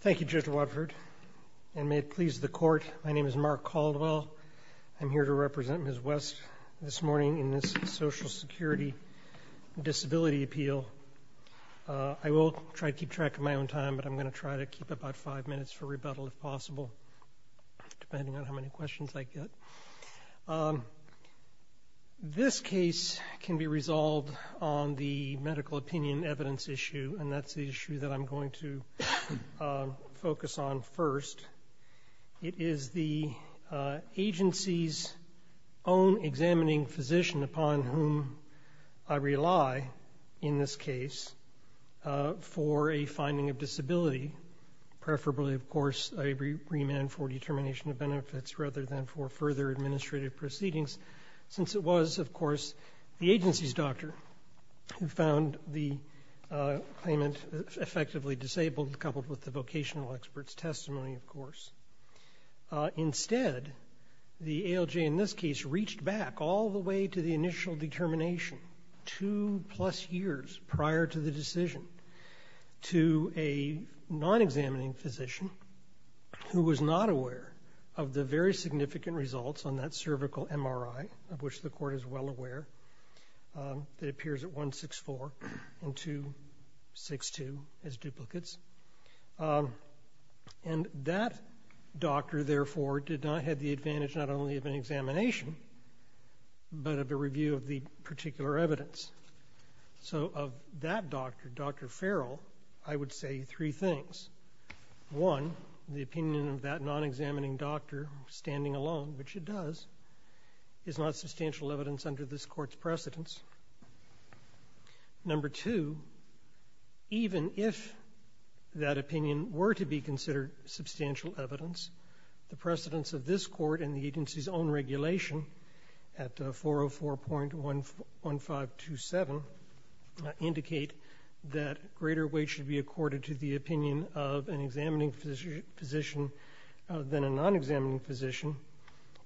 Thank you, Judge Watford, and may it please the Court, my name is Mark Caldwell. I'm here to represent Ms. West this morning in this Social Security Disability Appeal. I will try to keep track of my own time, but I'm going to try to keep about five minutes for rebuttal if possible, depending on how many questions I get. This case can be resolved on the medical opinion evidence issue, and that's the issue that I'm going to focus on first. It is the agency's own examining physician upon whom I rely in this case for a finding of disability, preferably, of course, a remand for determination of benefits rather than for further administrative proceedings, since it was, of course, the agency's doctor who found the claimant effectively disabled, coupled with the vocational expert's testimony, of course. Instead, the ALJ in this case reached back all the way to the initial determination two-plus years prior to the decision to a non-examining physician who was not aware of the very significant results on that cervical MRI, of which the Court is well aware, that appears at 164 and 262 as duplicates. And that doctor, therefore, did not have the advantage not only of an examination, but of a review of the particular evidence. So of that doctor, Dr. Farrell, I would say three things. One, the opinion of that non-examining doctor standing alone, which it does, is not substantial evidence under this Court's precedence. Number two, even if that opinion were to be considered substantial evidence, the precedence of this that greater weight should be accorded to the opinion of an examining physician than a non-examining physician.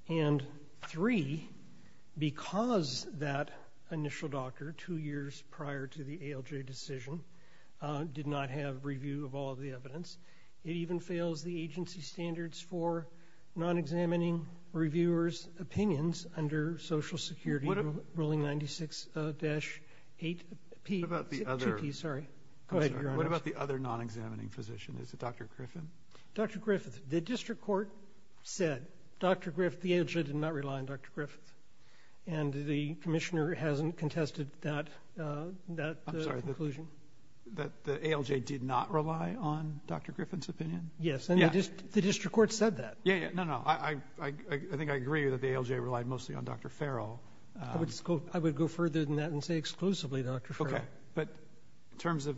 And three, because that initial doctor, two years prior to the ALJ decision, did not have review of all of the evidence, it even fails the agency's standards for non-examining reviewers' opinions under Social Security Ruling 96-8P-2P, sorry. Go ahead, Your Honor. Breyer. What about the other non-examining physician? Is it Dr. Griffin? Sotomayor. Dr. Griffith. The district court said, Dr. Griffith, the ALJ did not rely on Dr. Griffith. And the Commissioner hasn't contested that, that conclusion. Breyer. I'm sorry. That the ALJ did not rely on Dr. Griffin's opinion? Sotomayor. Yes. And the district court said that. Breyer. Yeah, yeah. No, no. I think I agree that the ALJ relied mostly on Dr. Farrell. Sotomayor. I would go further than that and say exclusively Dr. Farrell. Breyer. Okay. But in terms of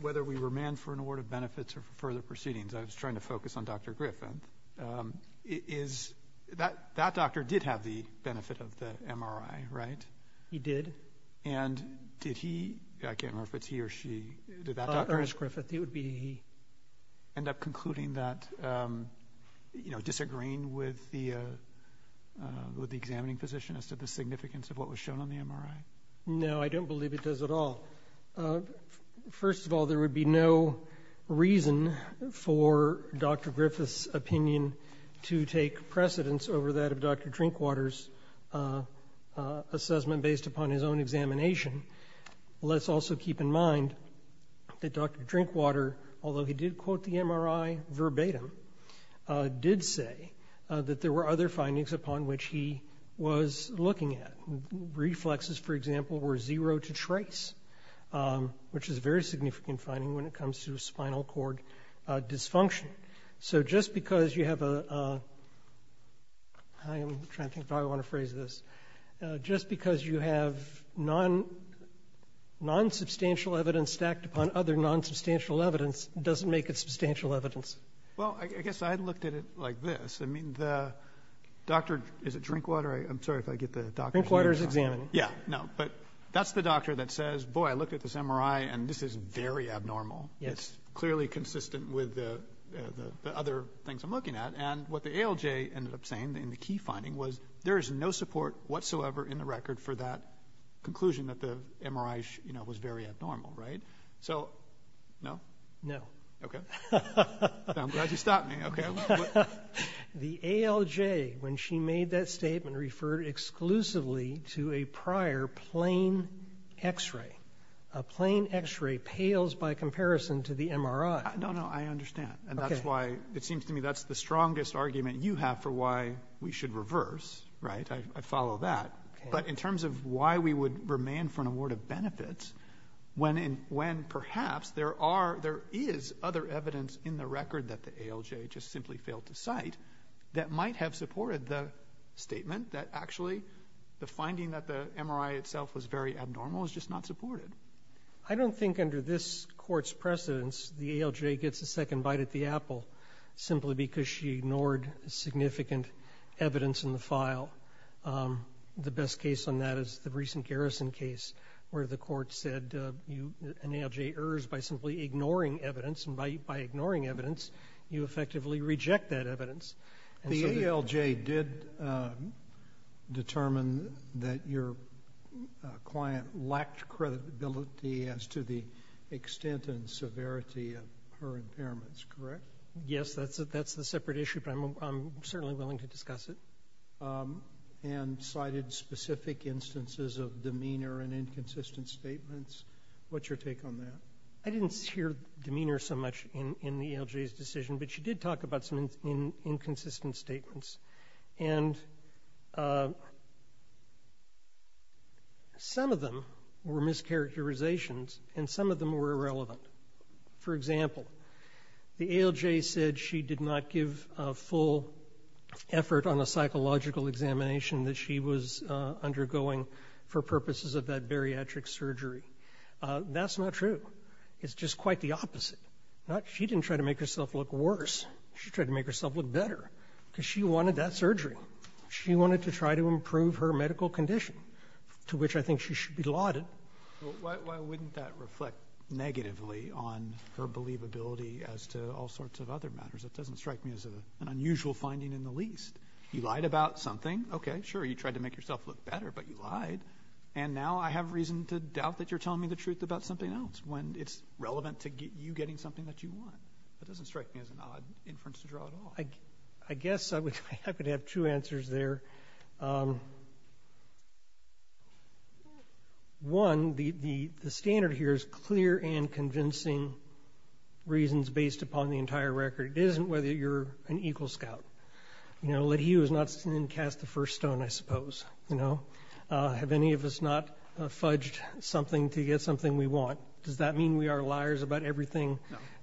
whether we were manned for an award of benefits or for further proceedings, I was trying to focus on Dr. Griffin. Is that, that doctor did have the benefit of the MRI, right? Sotomayor. He did. Breyer. And did he, I can't remember if it's he or she, did that doctor end up concluding that, you know, disagreeing with the examining physician as to the significance of what was shown on the MRI? Sotomayor. No, I don't believe it does at all. First of all, there would be no reason for Dr. Griffith's opinion to take precedence over that of Dr. Drinkwater's assessment based upon his own examination. Let's also keep in mind that Dr. Drinkwater, although he did quote the MRI verbatim, did say that there were other findings upon which he was looking at. Reflexes, for example, were zero to trace, which is a very significant finding when it comes to spinal cord dysfunction. So just because you have a, I'm trying to think of how I want to phrase this, just because you have non-substantial evidence stacked upon other non-substantial evidence doesn't make it substantial evidence. Breyer. Well, I guess I looked at it like this. I mean, the doctor, is it Drinkwater? I'm sorry if I get the doctor. Sotomayor. Drinkwater's examined. Breyer. Yeah, no, but that's the doctor that says, boy, I looked at this MRI and this is very abnormal. It's clearly consistent with the other things I'm looking at. And what the ALJ ended up saying in the key finding was there is no support whatsoever in the record for that conclusion that the MRI, you know, was very abnormal, right? So, no? Sotomayor. No. Breyer. Okay. I'm glad you stopped me. Sotomayor. Okay. Breyer. The ALJ, when she made that statement, referred exclusively to a prior plain X-ray. A plain X-ray pales by comparison to the MRI. Sotomayor. No, no, I understand. And that's why it seems to me that's the strongest argument you have for why we should reverse, right? I follow that. But in terms of why we would remain for an award of benefits, when perhaps there are, there is other evidence in the record that the ALJ just simply failed to cite that might have supported the statement that actually the finding that the MRI itself was very abnormal is just not supported. Breyer. I don't think under this Court's precedence the ALJ gets a second bite at the apple simply because she ignored significant evidence in the file. The best case on that is the recent Garrison case where the Court said an ALJ errs by simply ignoring evidence and by ignoring evidence, you effectively reject that evidence. Sotomayor. The ALJ did determine that your client lacked credibility as to the extent and severity of her impairments, correct? Breyer. Yes, that's a separate issue, but I'm certainly willing to discuss it. Sotomayor. And cited specific instances of demeanor and inconsistent statements. What's your take on that? Breyer. I didn't hear demeanor so much in the ALJ's decision, but she did talk about some inconsistent statements. And some of them were mischaracterizations, and some of them were irrelevant. For example, the ALJ said she did not give a full effort on a psychological examination that she was undergoing for purposes of that bariatric surgery. That's not true. It's just quite the opposite. She didn't try to make herself look worse. She tried to make herself look better because she wanted that surgery. She wanted to try to improve her medical condition, to which I think she should be lauded. Roberts. Why wouldn't that reflect negatively on her believability as to all sorts of other matters? It doesn't strike me as an unusual finding in the least. You lied about something, okay, sure, you tried to make yourself look better, but you lied. And now I have reason to doubt that you're telling me the truth about something else when it's relevant to you getting something that you want. It doesn't strike me as an odd inference to draw at all. I guess I could have two answers there. One, the standard here is clear and convincing reasons based upon the entire record. It isn't whether you're an EGLE scout. You know, have any of us not fudged something to get something we want? Does that mean we are liars about everything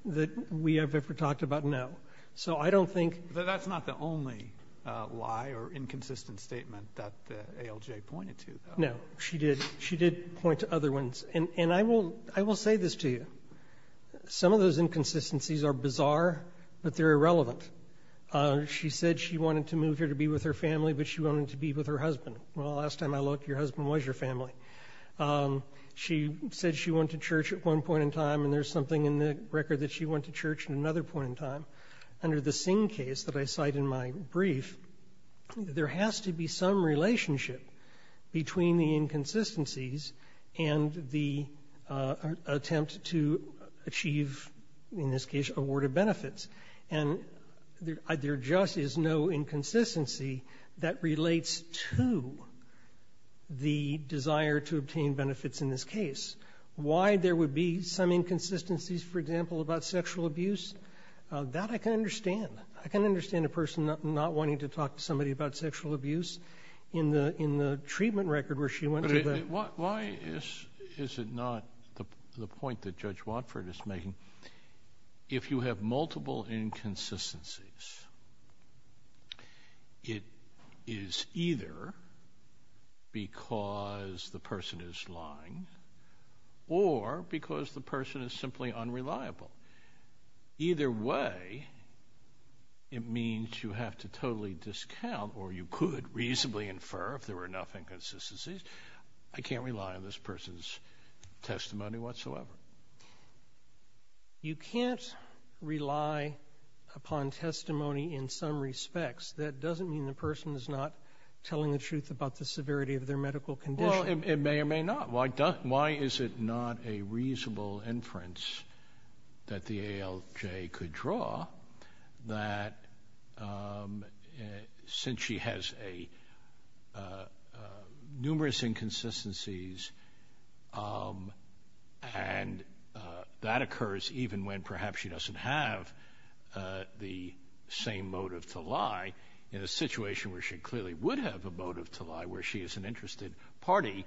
that we have ever talked about? No. So I don't think... But that's not the only lie or inconsistent statement that ALJ pointed to, though. No. She did. She did point to other ones. And I will say this to you. Some of those inconsistencies are bizarre, but they're irrelevant. She said she wanted to move here to be with her family, but she wanted to be with her husband. Well, last time I looked, your husband was your family. She said she went to church at one point in time, and there's something in the record that she went to church at another point in time. Under the Singh case that I cite in my brief, there has to be some relationship between the inconsistencies and the attempt to achieve, in this case, awarded benefits. And there just is no inconsistency that relates to the desire to obtain benefits in this case. Why there would be some inconsistencies, for example, about sexual abuse, that I can understand. I can understand a person not wanting to talk to somebody about sexual abuse in the treatment record where she went to the... But why is it not the point that Judge Watford is making? If you have multiple inconsistencies, it is either because the person is lying, or because the person is simply unreliable. Either way, it means you have to totally discount, or you could reasonably infer if there were enough inconsistencies. I can't rely on this person's testimony whatsoever. You can't rely upon testimony in some respects. That doesn't mean the person is not telling the truth about the severity of their medical condition. Well, it may or may not. Why is it not a reasonable inference that the ALJ could draw that, since she has numerous inconsistencies, and she has a medical condition, that the ALJ could draw that? And that occurs even when perhaps she doesn't have the same motive to lie. In a situation where she clearly would have a motive to lie, where she is an interested party,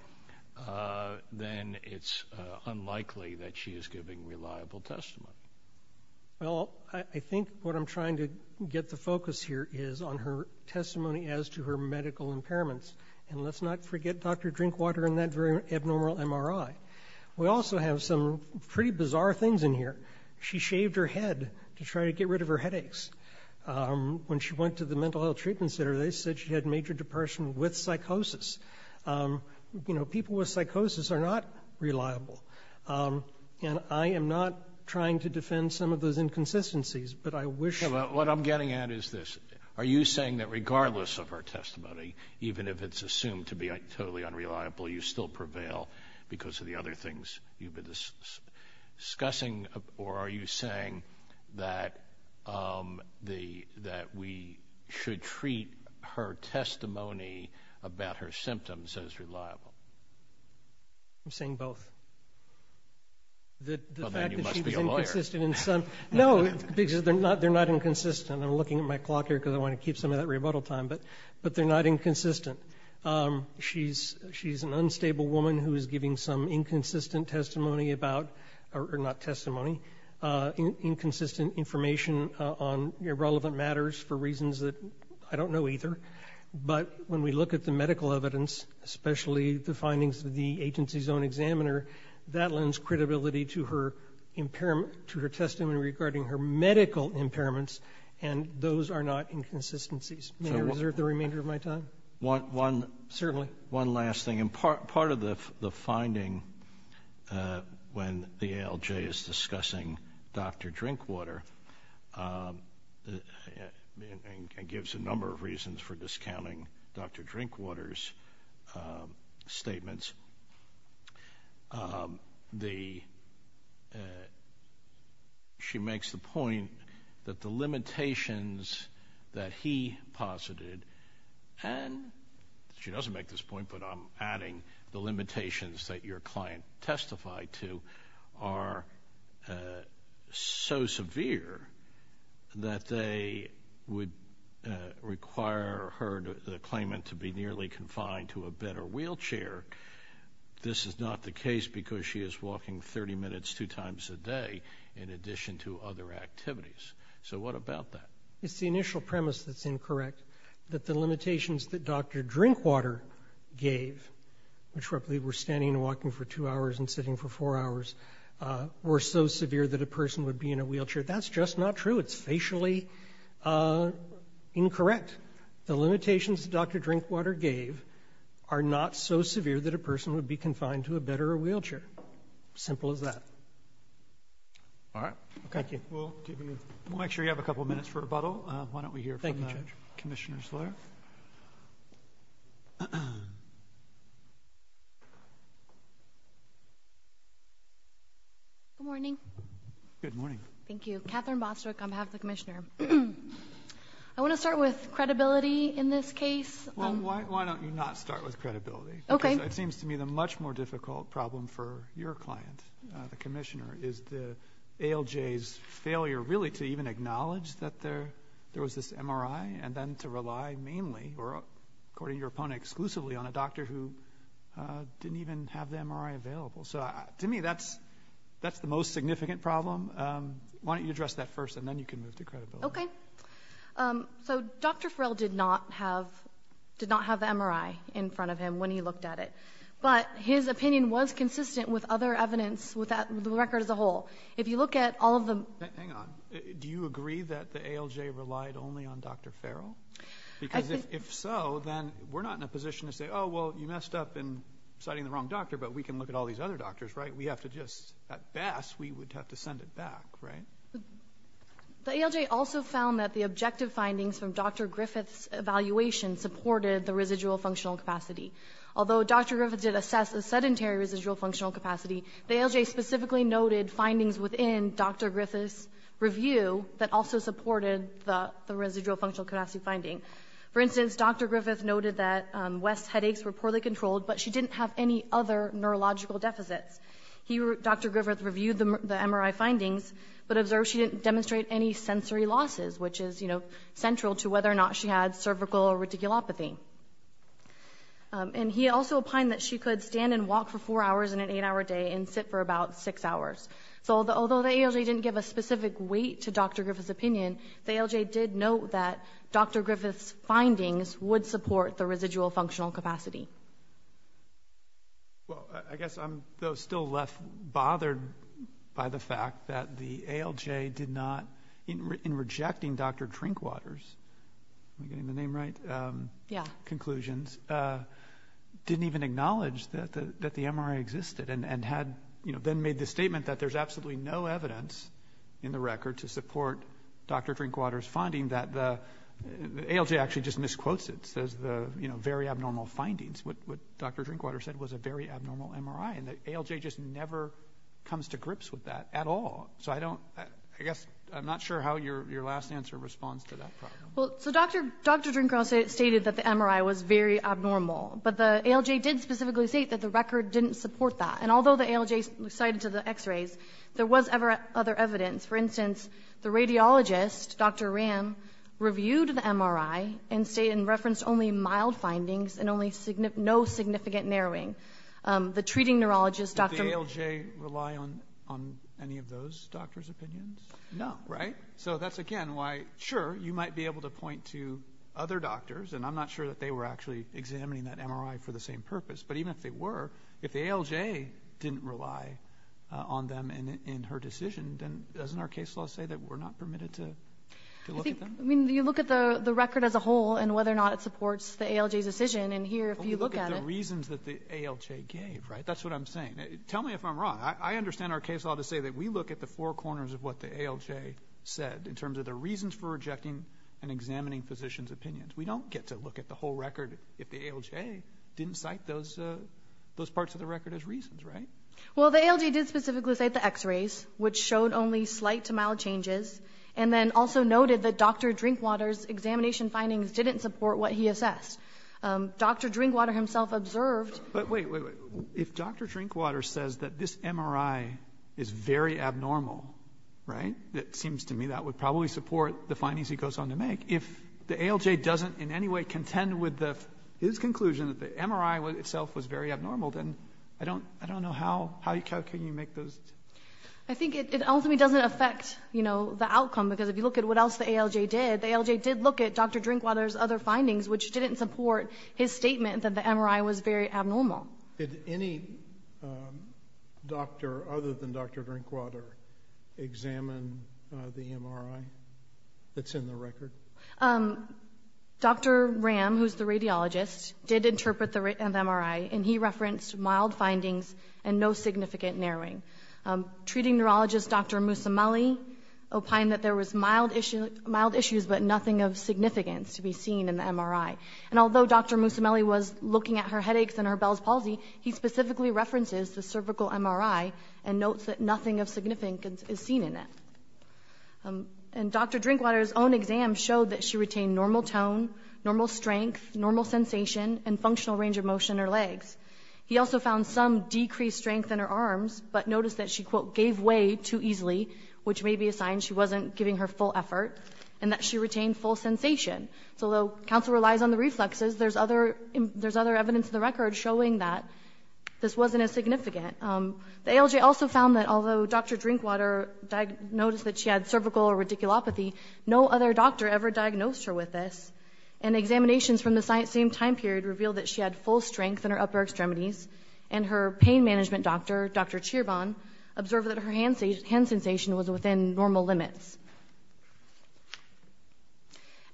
then it's unlikely that she is giving reliable testimony. Well, I think what I'm trying to get the focus here is on her testimony as to her medical impairments. And let's not forget Dr. Drinkwater and that very abnormal MRI. We also have some pretty bizarre things in here. She shaved her head to try to get rid of her headaches. When she went to the mental health treatment center, they said she had major depression with psychosis. You know, people with psychosis are not reliable. And I am not trying to defend some of those inconsistencies, but I wish you could. What I'm getting at is this. Are you saying that regardless of her testimony, even if it's assumed to be totally unreliable, you still prevail because of the other things you've been discussing? Or are you saying that we should treat her testimony about her symptoms as reliable? I'm saying both. That the fact that she was inconsistent in some... Well, then you must be a lawyer. No, because they're not inconsistent. I'm looking at my clock here because I want to be sure. She's an unstable woman who is giving some inconsistent testimony about, or not testimony, inconsistent information on irrelevant matters for reasons that I don't know either. But when we look at the medical evidence, especially the findings of the agency's own examiner, that lends credibility to her testimony regarding her medical impairments, and those are not inconsistencies. May I reserve the remainder of my time? Certainly. One last thing. Part of the finding when the ALJ is discussing Dr. Drinkwater, and gives a number of reasons for discounting Dr. Drinkwater's statements, she makes the point that the limitations that he posited, and she doesn't make this point, but I'm adding the limitations that your client testified to, are so severe that they would require her, the claimant, to be nearly confined to a bed or wheelchair. This is not the case because she is walking 30 minutes two times a day in addition to other activities. So what about that? It's the initial premise that's incorrect, that the limitations that Dr. Drinkwater gave, which were standing and walking for two hours and sitting for four hours, were so severe that a person would be in a wheelchair. That's just not true. It's facially incorrect. The limitations that Dr. Drinkwater gave are not so severe that a person would be confined to a bed or a wheelchair. Simple as that. All right. Thank you. We'll make sure you have a couple minutes for rebuttal. Why don't we hear from the Commissioner Slayer. Good morning. Good morning. Thank you. Katherine Bostrick on behalf of the Commissioner. I want to start with credibility in this case. Well, why don't you not start with credibility? Okay. Because it seems to me the much more difficult problem for your client, the Commissioner, is the ALJ's failure really to even acknowledge that there was this MRI and then to rely mainly, or according to your opponent, exclusively on a doctor who didn't even have the MRI available. So to me, that's the most significant problem. Why don't you address that first and then you can move to credibility. Okay. So Dr. Farrell did not have the MRI in front of him when he looked at it. But his opinion was consistent with other evidence, with the record as a whole. If you look at all of the... Hang on. Do you agree that the ALJ relied only on Dr. Farrell? Because if so, then we're not in a position to say, oh, well, you messed up in citing the wrong doctor, but we can look at all these other doctors, right? We have to just... At best, we would have to send it back, right? The ALJ also found that the objective findings from Dr. Griffith's evaluation supported the residual functional capacity. Although Dr. Griffith did assess the sedentary residual functional capacity, the ALJ specifically noted findings within Dr. Griffith's review that also supported the residual functional capacity finding. For instance, Dr. Griffith noted that West's headaches were poorly controlled, but she didn't have any other neurological deficits. Dr. Griffith reviewed the MRI findings, but observed she didn't demonstrate any sensory losses, which is central to whether or not she had cervical or reticulopathy. And he also opined that she could stand and walk for four hours in an eight-hour day and sit for about six hours. So although the ALJ didn't give a specific weight to Dr. Griffith's opinion, the ALJ did note that Dr. Griffith's findings would support the residual functional capacity. Well, I guess I'm still left bothered by the fact that the ALJ did not... in rejecting Dr. Drinkwater's... am I getting the name right? Yeah. ...conclusions, didn't even acknowledge that the MRI existed, and had then made the statement that there's absolutely no evidence in the record to support Dr. Drinkwater's finding that the... ALJ actually just misquotes it, says the very abnormal findings. What Dr. Drinkwater said was a very abnormal MRI. And the ALJ just never comes to grips with that at all. So I don't... I guess I'm not sure how your last answer responds to that problem. Well, so Dr. Drinkwater stated that the MRI was very abnormal, but the ALJ did specifically state that the record didn't support that. And although the ALJ cited to the x-rays, there was other evidence. For instance, the radiologist, Dr. Ram, reviewed the MRI and referenced only mild findings and no significant narrowing. The treating neurologist, Dr.... Did the ALJ rely on any of those doctors' opinions? No. So that's, again, why, sure, you might be able to point to other doctors, and I'm not sure that they were actually examining that MRI for the same purpose. But even if they were, if the ALJ didn't rely on them in her decision, then doesn't our case law say that we're not permitted to look at them? I mean, you look at the record as a whole and whether or not it supports the ALJ's decision. And here, if you look at it... Well, you look at the reasons that the ALJ gave, right? That's what I'm saying. Tell me if I'm wrong. I understand our case law to say that we look at the four corners of what the ALJ said in terms of the reasons for rejecting and examining physicians' opinions. We don't get to look at the whole record if the ALJ didn't cite those parts of the record as reasons, right? Well, the ALJ did specifically cite the x-rays, which showed only slight to mild changes, and then also noted that Dr. Drinkwater's examination findings didn't support what he assessed. Dr. Drinkwater himself observed... But wait, wait, wait. If Dr. Drinkwater says that this MRI is very abnormal, right, it seems to me that would probably support the findings he goes on to make. If the ALJ doesn't in any way contend with his conclusion that the MRI itself was very abnormal, then I don't know how can you make those... I think it ultimately doesn't affect, you know, the outcome, because if you look at what else the ALJ did, the ALJ did look at Dr. Drinkwater's other findings, which didn't support his statement that the MRI was very abnormal. Did any doctor other than Dr. Drinkwater examine the MRI that's in the record? Dr. Ram, who's the radiologist, did interpret the MRI, and he referenced mild findings and no significant narrowing. Treating neurologist Dr. Mousamali opined that there was mild issues, but nothing of significance to be seen in the MRI. And although Dr. Mousamali was looking at her headaches and her Bell's palsy, he specifically references the cervical MRI and notes that nothing of significance is seen in it. And Dr. Drinkwater's own exam showed that she retained normal tone, normal strength, He also found some decreased strength in her arms, but noticed that she, quote, gave way too easily, which may be a sign she wasn't giving her full effort, and that she retained full sensation. So although counsel relies on the reflexes, there's other evidence in the record showing that this wasn't as significant. The ALJ also found that although Dr. Drinkwater noticed that she had cervical or radiculopathy, no other doctor ever diagnosed her with this. And examinations from the same time period revealed that she had full strength in her upper extremities, and her pain management doctor, Dr. Chirbon, observed that her hand sensation was within normal limits.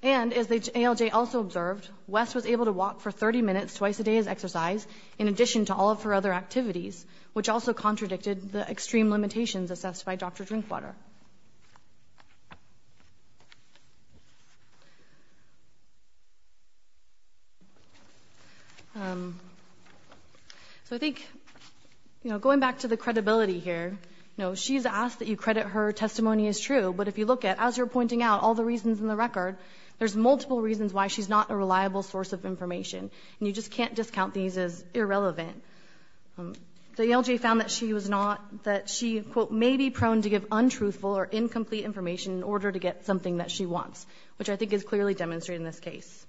And, as the ALJ also observed, Wes was able to walk for 30 minutes twice a day as exercise in addition to all of her other activities, which also contradicted the extreme limitations assessed by Dr. Drinkwater. So I think, you know, going back to the credibility here, you know, she's asked that you credit her testimony as true, but if you look at, as you're pointing out, all the reasons in the record, there's multiple reasons why she's not a reliable source of information. And you just can't discount these as irrelevant. The ALJ found that she was not, that she, quote, may be prone to give untruthful or incomplete information in order to get something that she wants, which I think is clearly demonstrated in this case.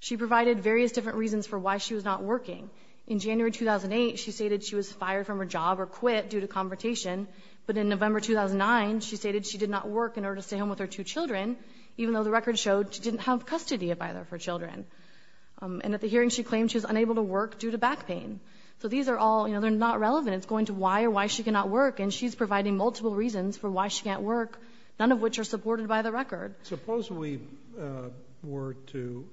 She provided various different reasons for why she was not working. In January 2008, she stated she was fired from her job or quit due to confrontation. But in November 2009, she stated she did not work in order to stay home with her two children, even though the record showed she didn't have custody of either of her children. And at the hearing, she claimed she was unable to work due to back pain. So these are all, you know, they're not relevant. It's going to why or why she cannot work, and she's providing multiple reasons for why she can't work, none of which are supported by the record. And suppose we were to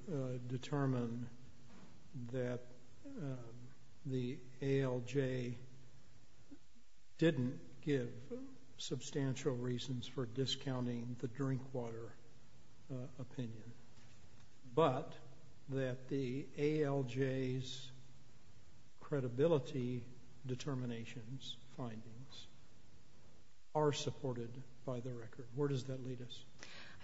determine that the ALJ didn't give substantial reasons for discounting the drink water opinion, but that the ALJ's credibility determinations, findings, are supported by the record. Where does that lead us?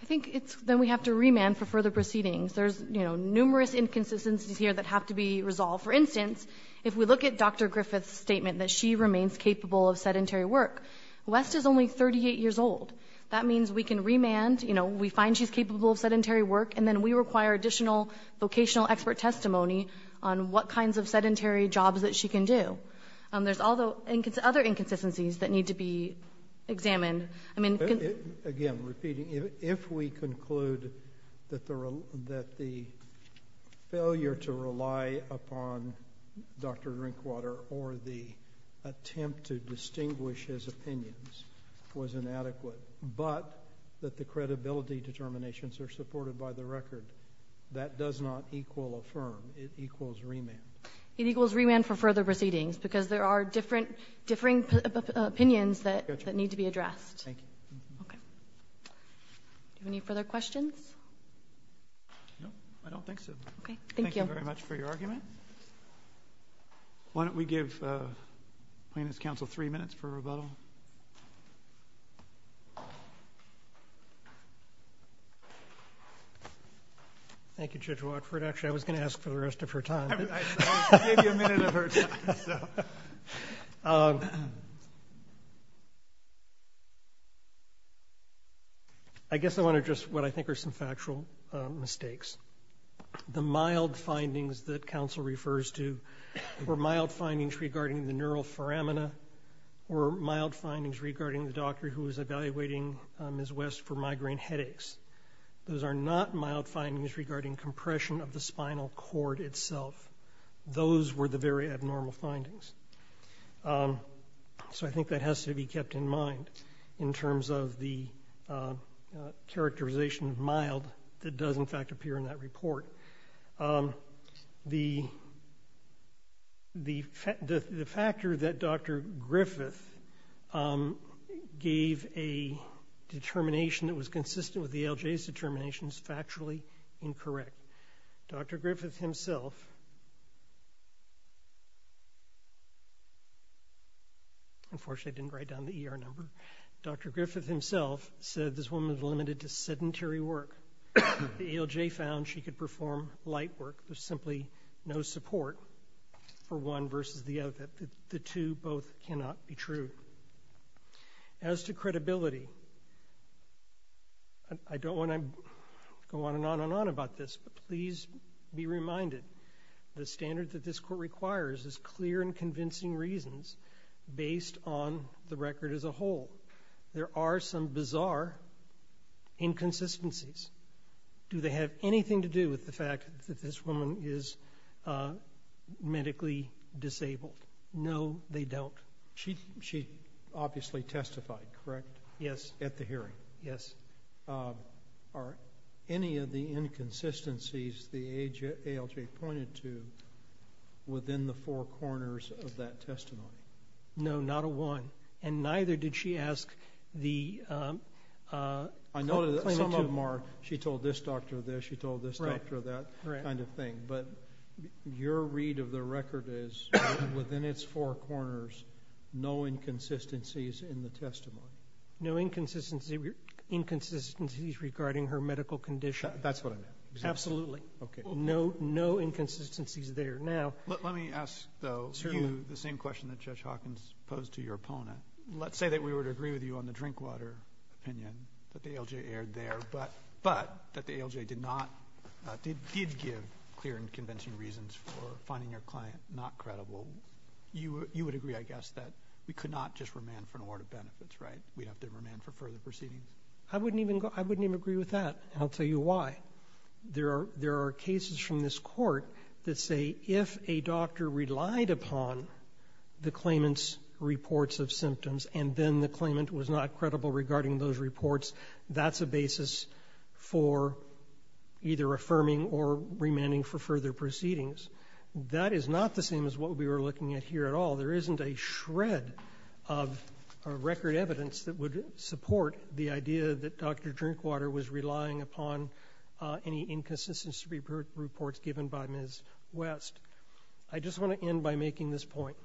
I think it's then we have to remand for further proceedings. There's, you know, numerous inconsistencies here that have to be resolved. For instance, if we look at Dr. Griffith's statement that she remains capable of sedentary work, West is only 38 years old. That means we can remand, you know, we find she's capable of sedentary work, and then we require additional vocational expert testimony on what kinds of sedentary jobs that she can do. There's other inconsistencies that need to be examined. Again, repeating, if we conclude that the failure to rely upon Dr. Drinkwater or the attempt to distinguish his opinions was inadequate, but that the credibility determinations are supported by the record, that does not equal affirm. It equals remand. It equals remand for further proceedings, because there are differing opinions that need to be addressed. Thank you. Okay. Do we have any further questions? No, I don't think so. Okay, thank you. Thank you very much for your argument. Why don't we give plaintiff's counsel three minutes for rebuttal. Thank you, Judge Watford. Actually, I was going to ask for the rest of her time. I gave you a minute of her time. I guess I want to address what I think are some factual mistakes. The mild findings that counsel refers to were mild findings regarding the neural foramina or mild findings regarding the doctor who was evaluating Ms. West for migraine headaches. Those are not mild findings regarding compression of the spinal cord itself. Those were the very abnormal findings. So I think that has to be kept in mind in terms of the characterization of mild that does, in fact, appear in that report. The factor that Dr. Griffith gave a determination that was consistent with the ALJ's determination is factually incorrect. Dr. Griffith himself unfortunately didn't write down the ER number. Dr. Griffith himself said this woman was limited to sedentary work. The ALJ found she could perform light work. There's simply no support for one versus the other. The two both cannot be true. As to credibility, I don't want to go on and on and on about this, but please be reminded the standard that this court requires is clear and convincing reasons based on the record as a whole. There are some bizarre inconsistencies. Do they have anything to do with the fact that this woman is medically disabled? No, they don't. She obviously testified, correct? Yes. At the hearing? Yes. Are any of the inconsistencies the ALJ pointed to within the four corners of that testimony? No, not a one. And neither did she ask the plaintiff to. I know some of them are she told this doctor this, she told this doctor that kind of thing. But your read of the record is within its four corners, no inconsistencies in the testimony. No inconsistencies regarding her medical condition. That's what I meant. Absolutely. Okay. No inconsistencies there. Now. Let me ask, though, the same question that Judge Hawkins posed to your opponent. Let's say that we would agree with you on the drink water opinion that the ALJ aired there, but that the ALJ did not, did give clear and convincing reasons for finding your client not credible. You would agree, I guess, that we could not just remand for an award of benefits, right? We'd have to remand for further proceedings? I wouldn't even agree with that, and I'll tell you why. There are cases from this Court that say if a doctor relied upon the claimant's reports of symptoms and then the claimant was not credible regarding those reports, that's a basis for either affirming or remanding for further proceedings. That is not the same as what we were looking at here at all. There isn't a shred of record evidence that would support the idea that Dr. Drinkwater was relying upon any inconsistency reports given by Ms. West. I just want to end by making this point.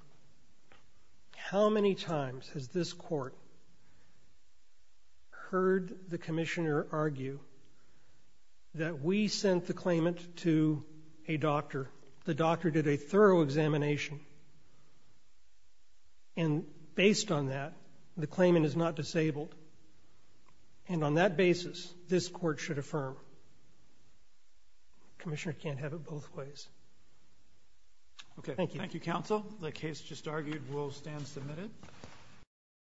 How many times has this Court heard the commissioner argue that we sent the claimant to a doctor, the doctor did a thorough examination, and based on that, the claimant is not disabled, and on that basis, this Court should affirm? The commissioner can't have it both ways. Thank you. Thank you, Counsel. The case just argued will stand submitted.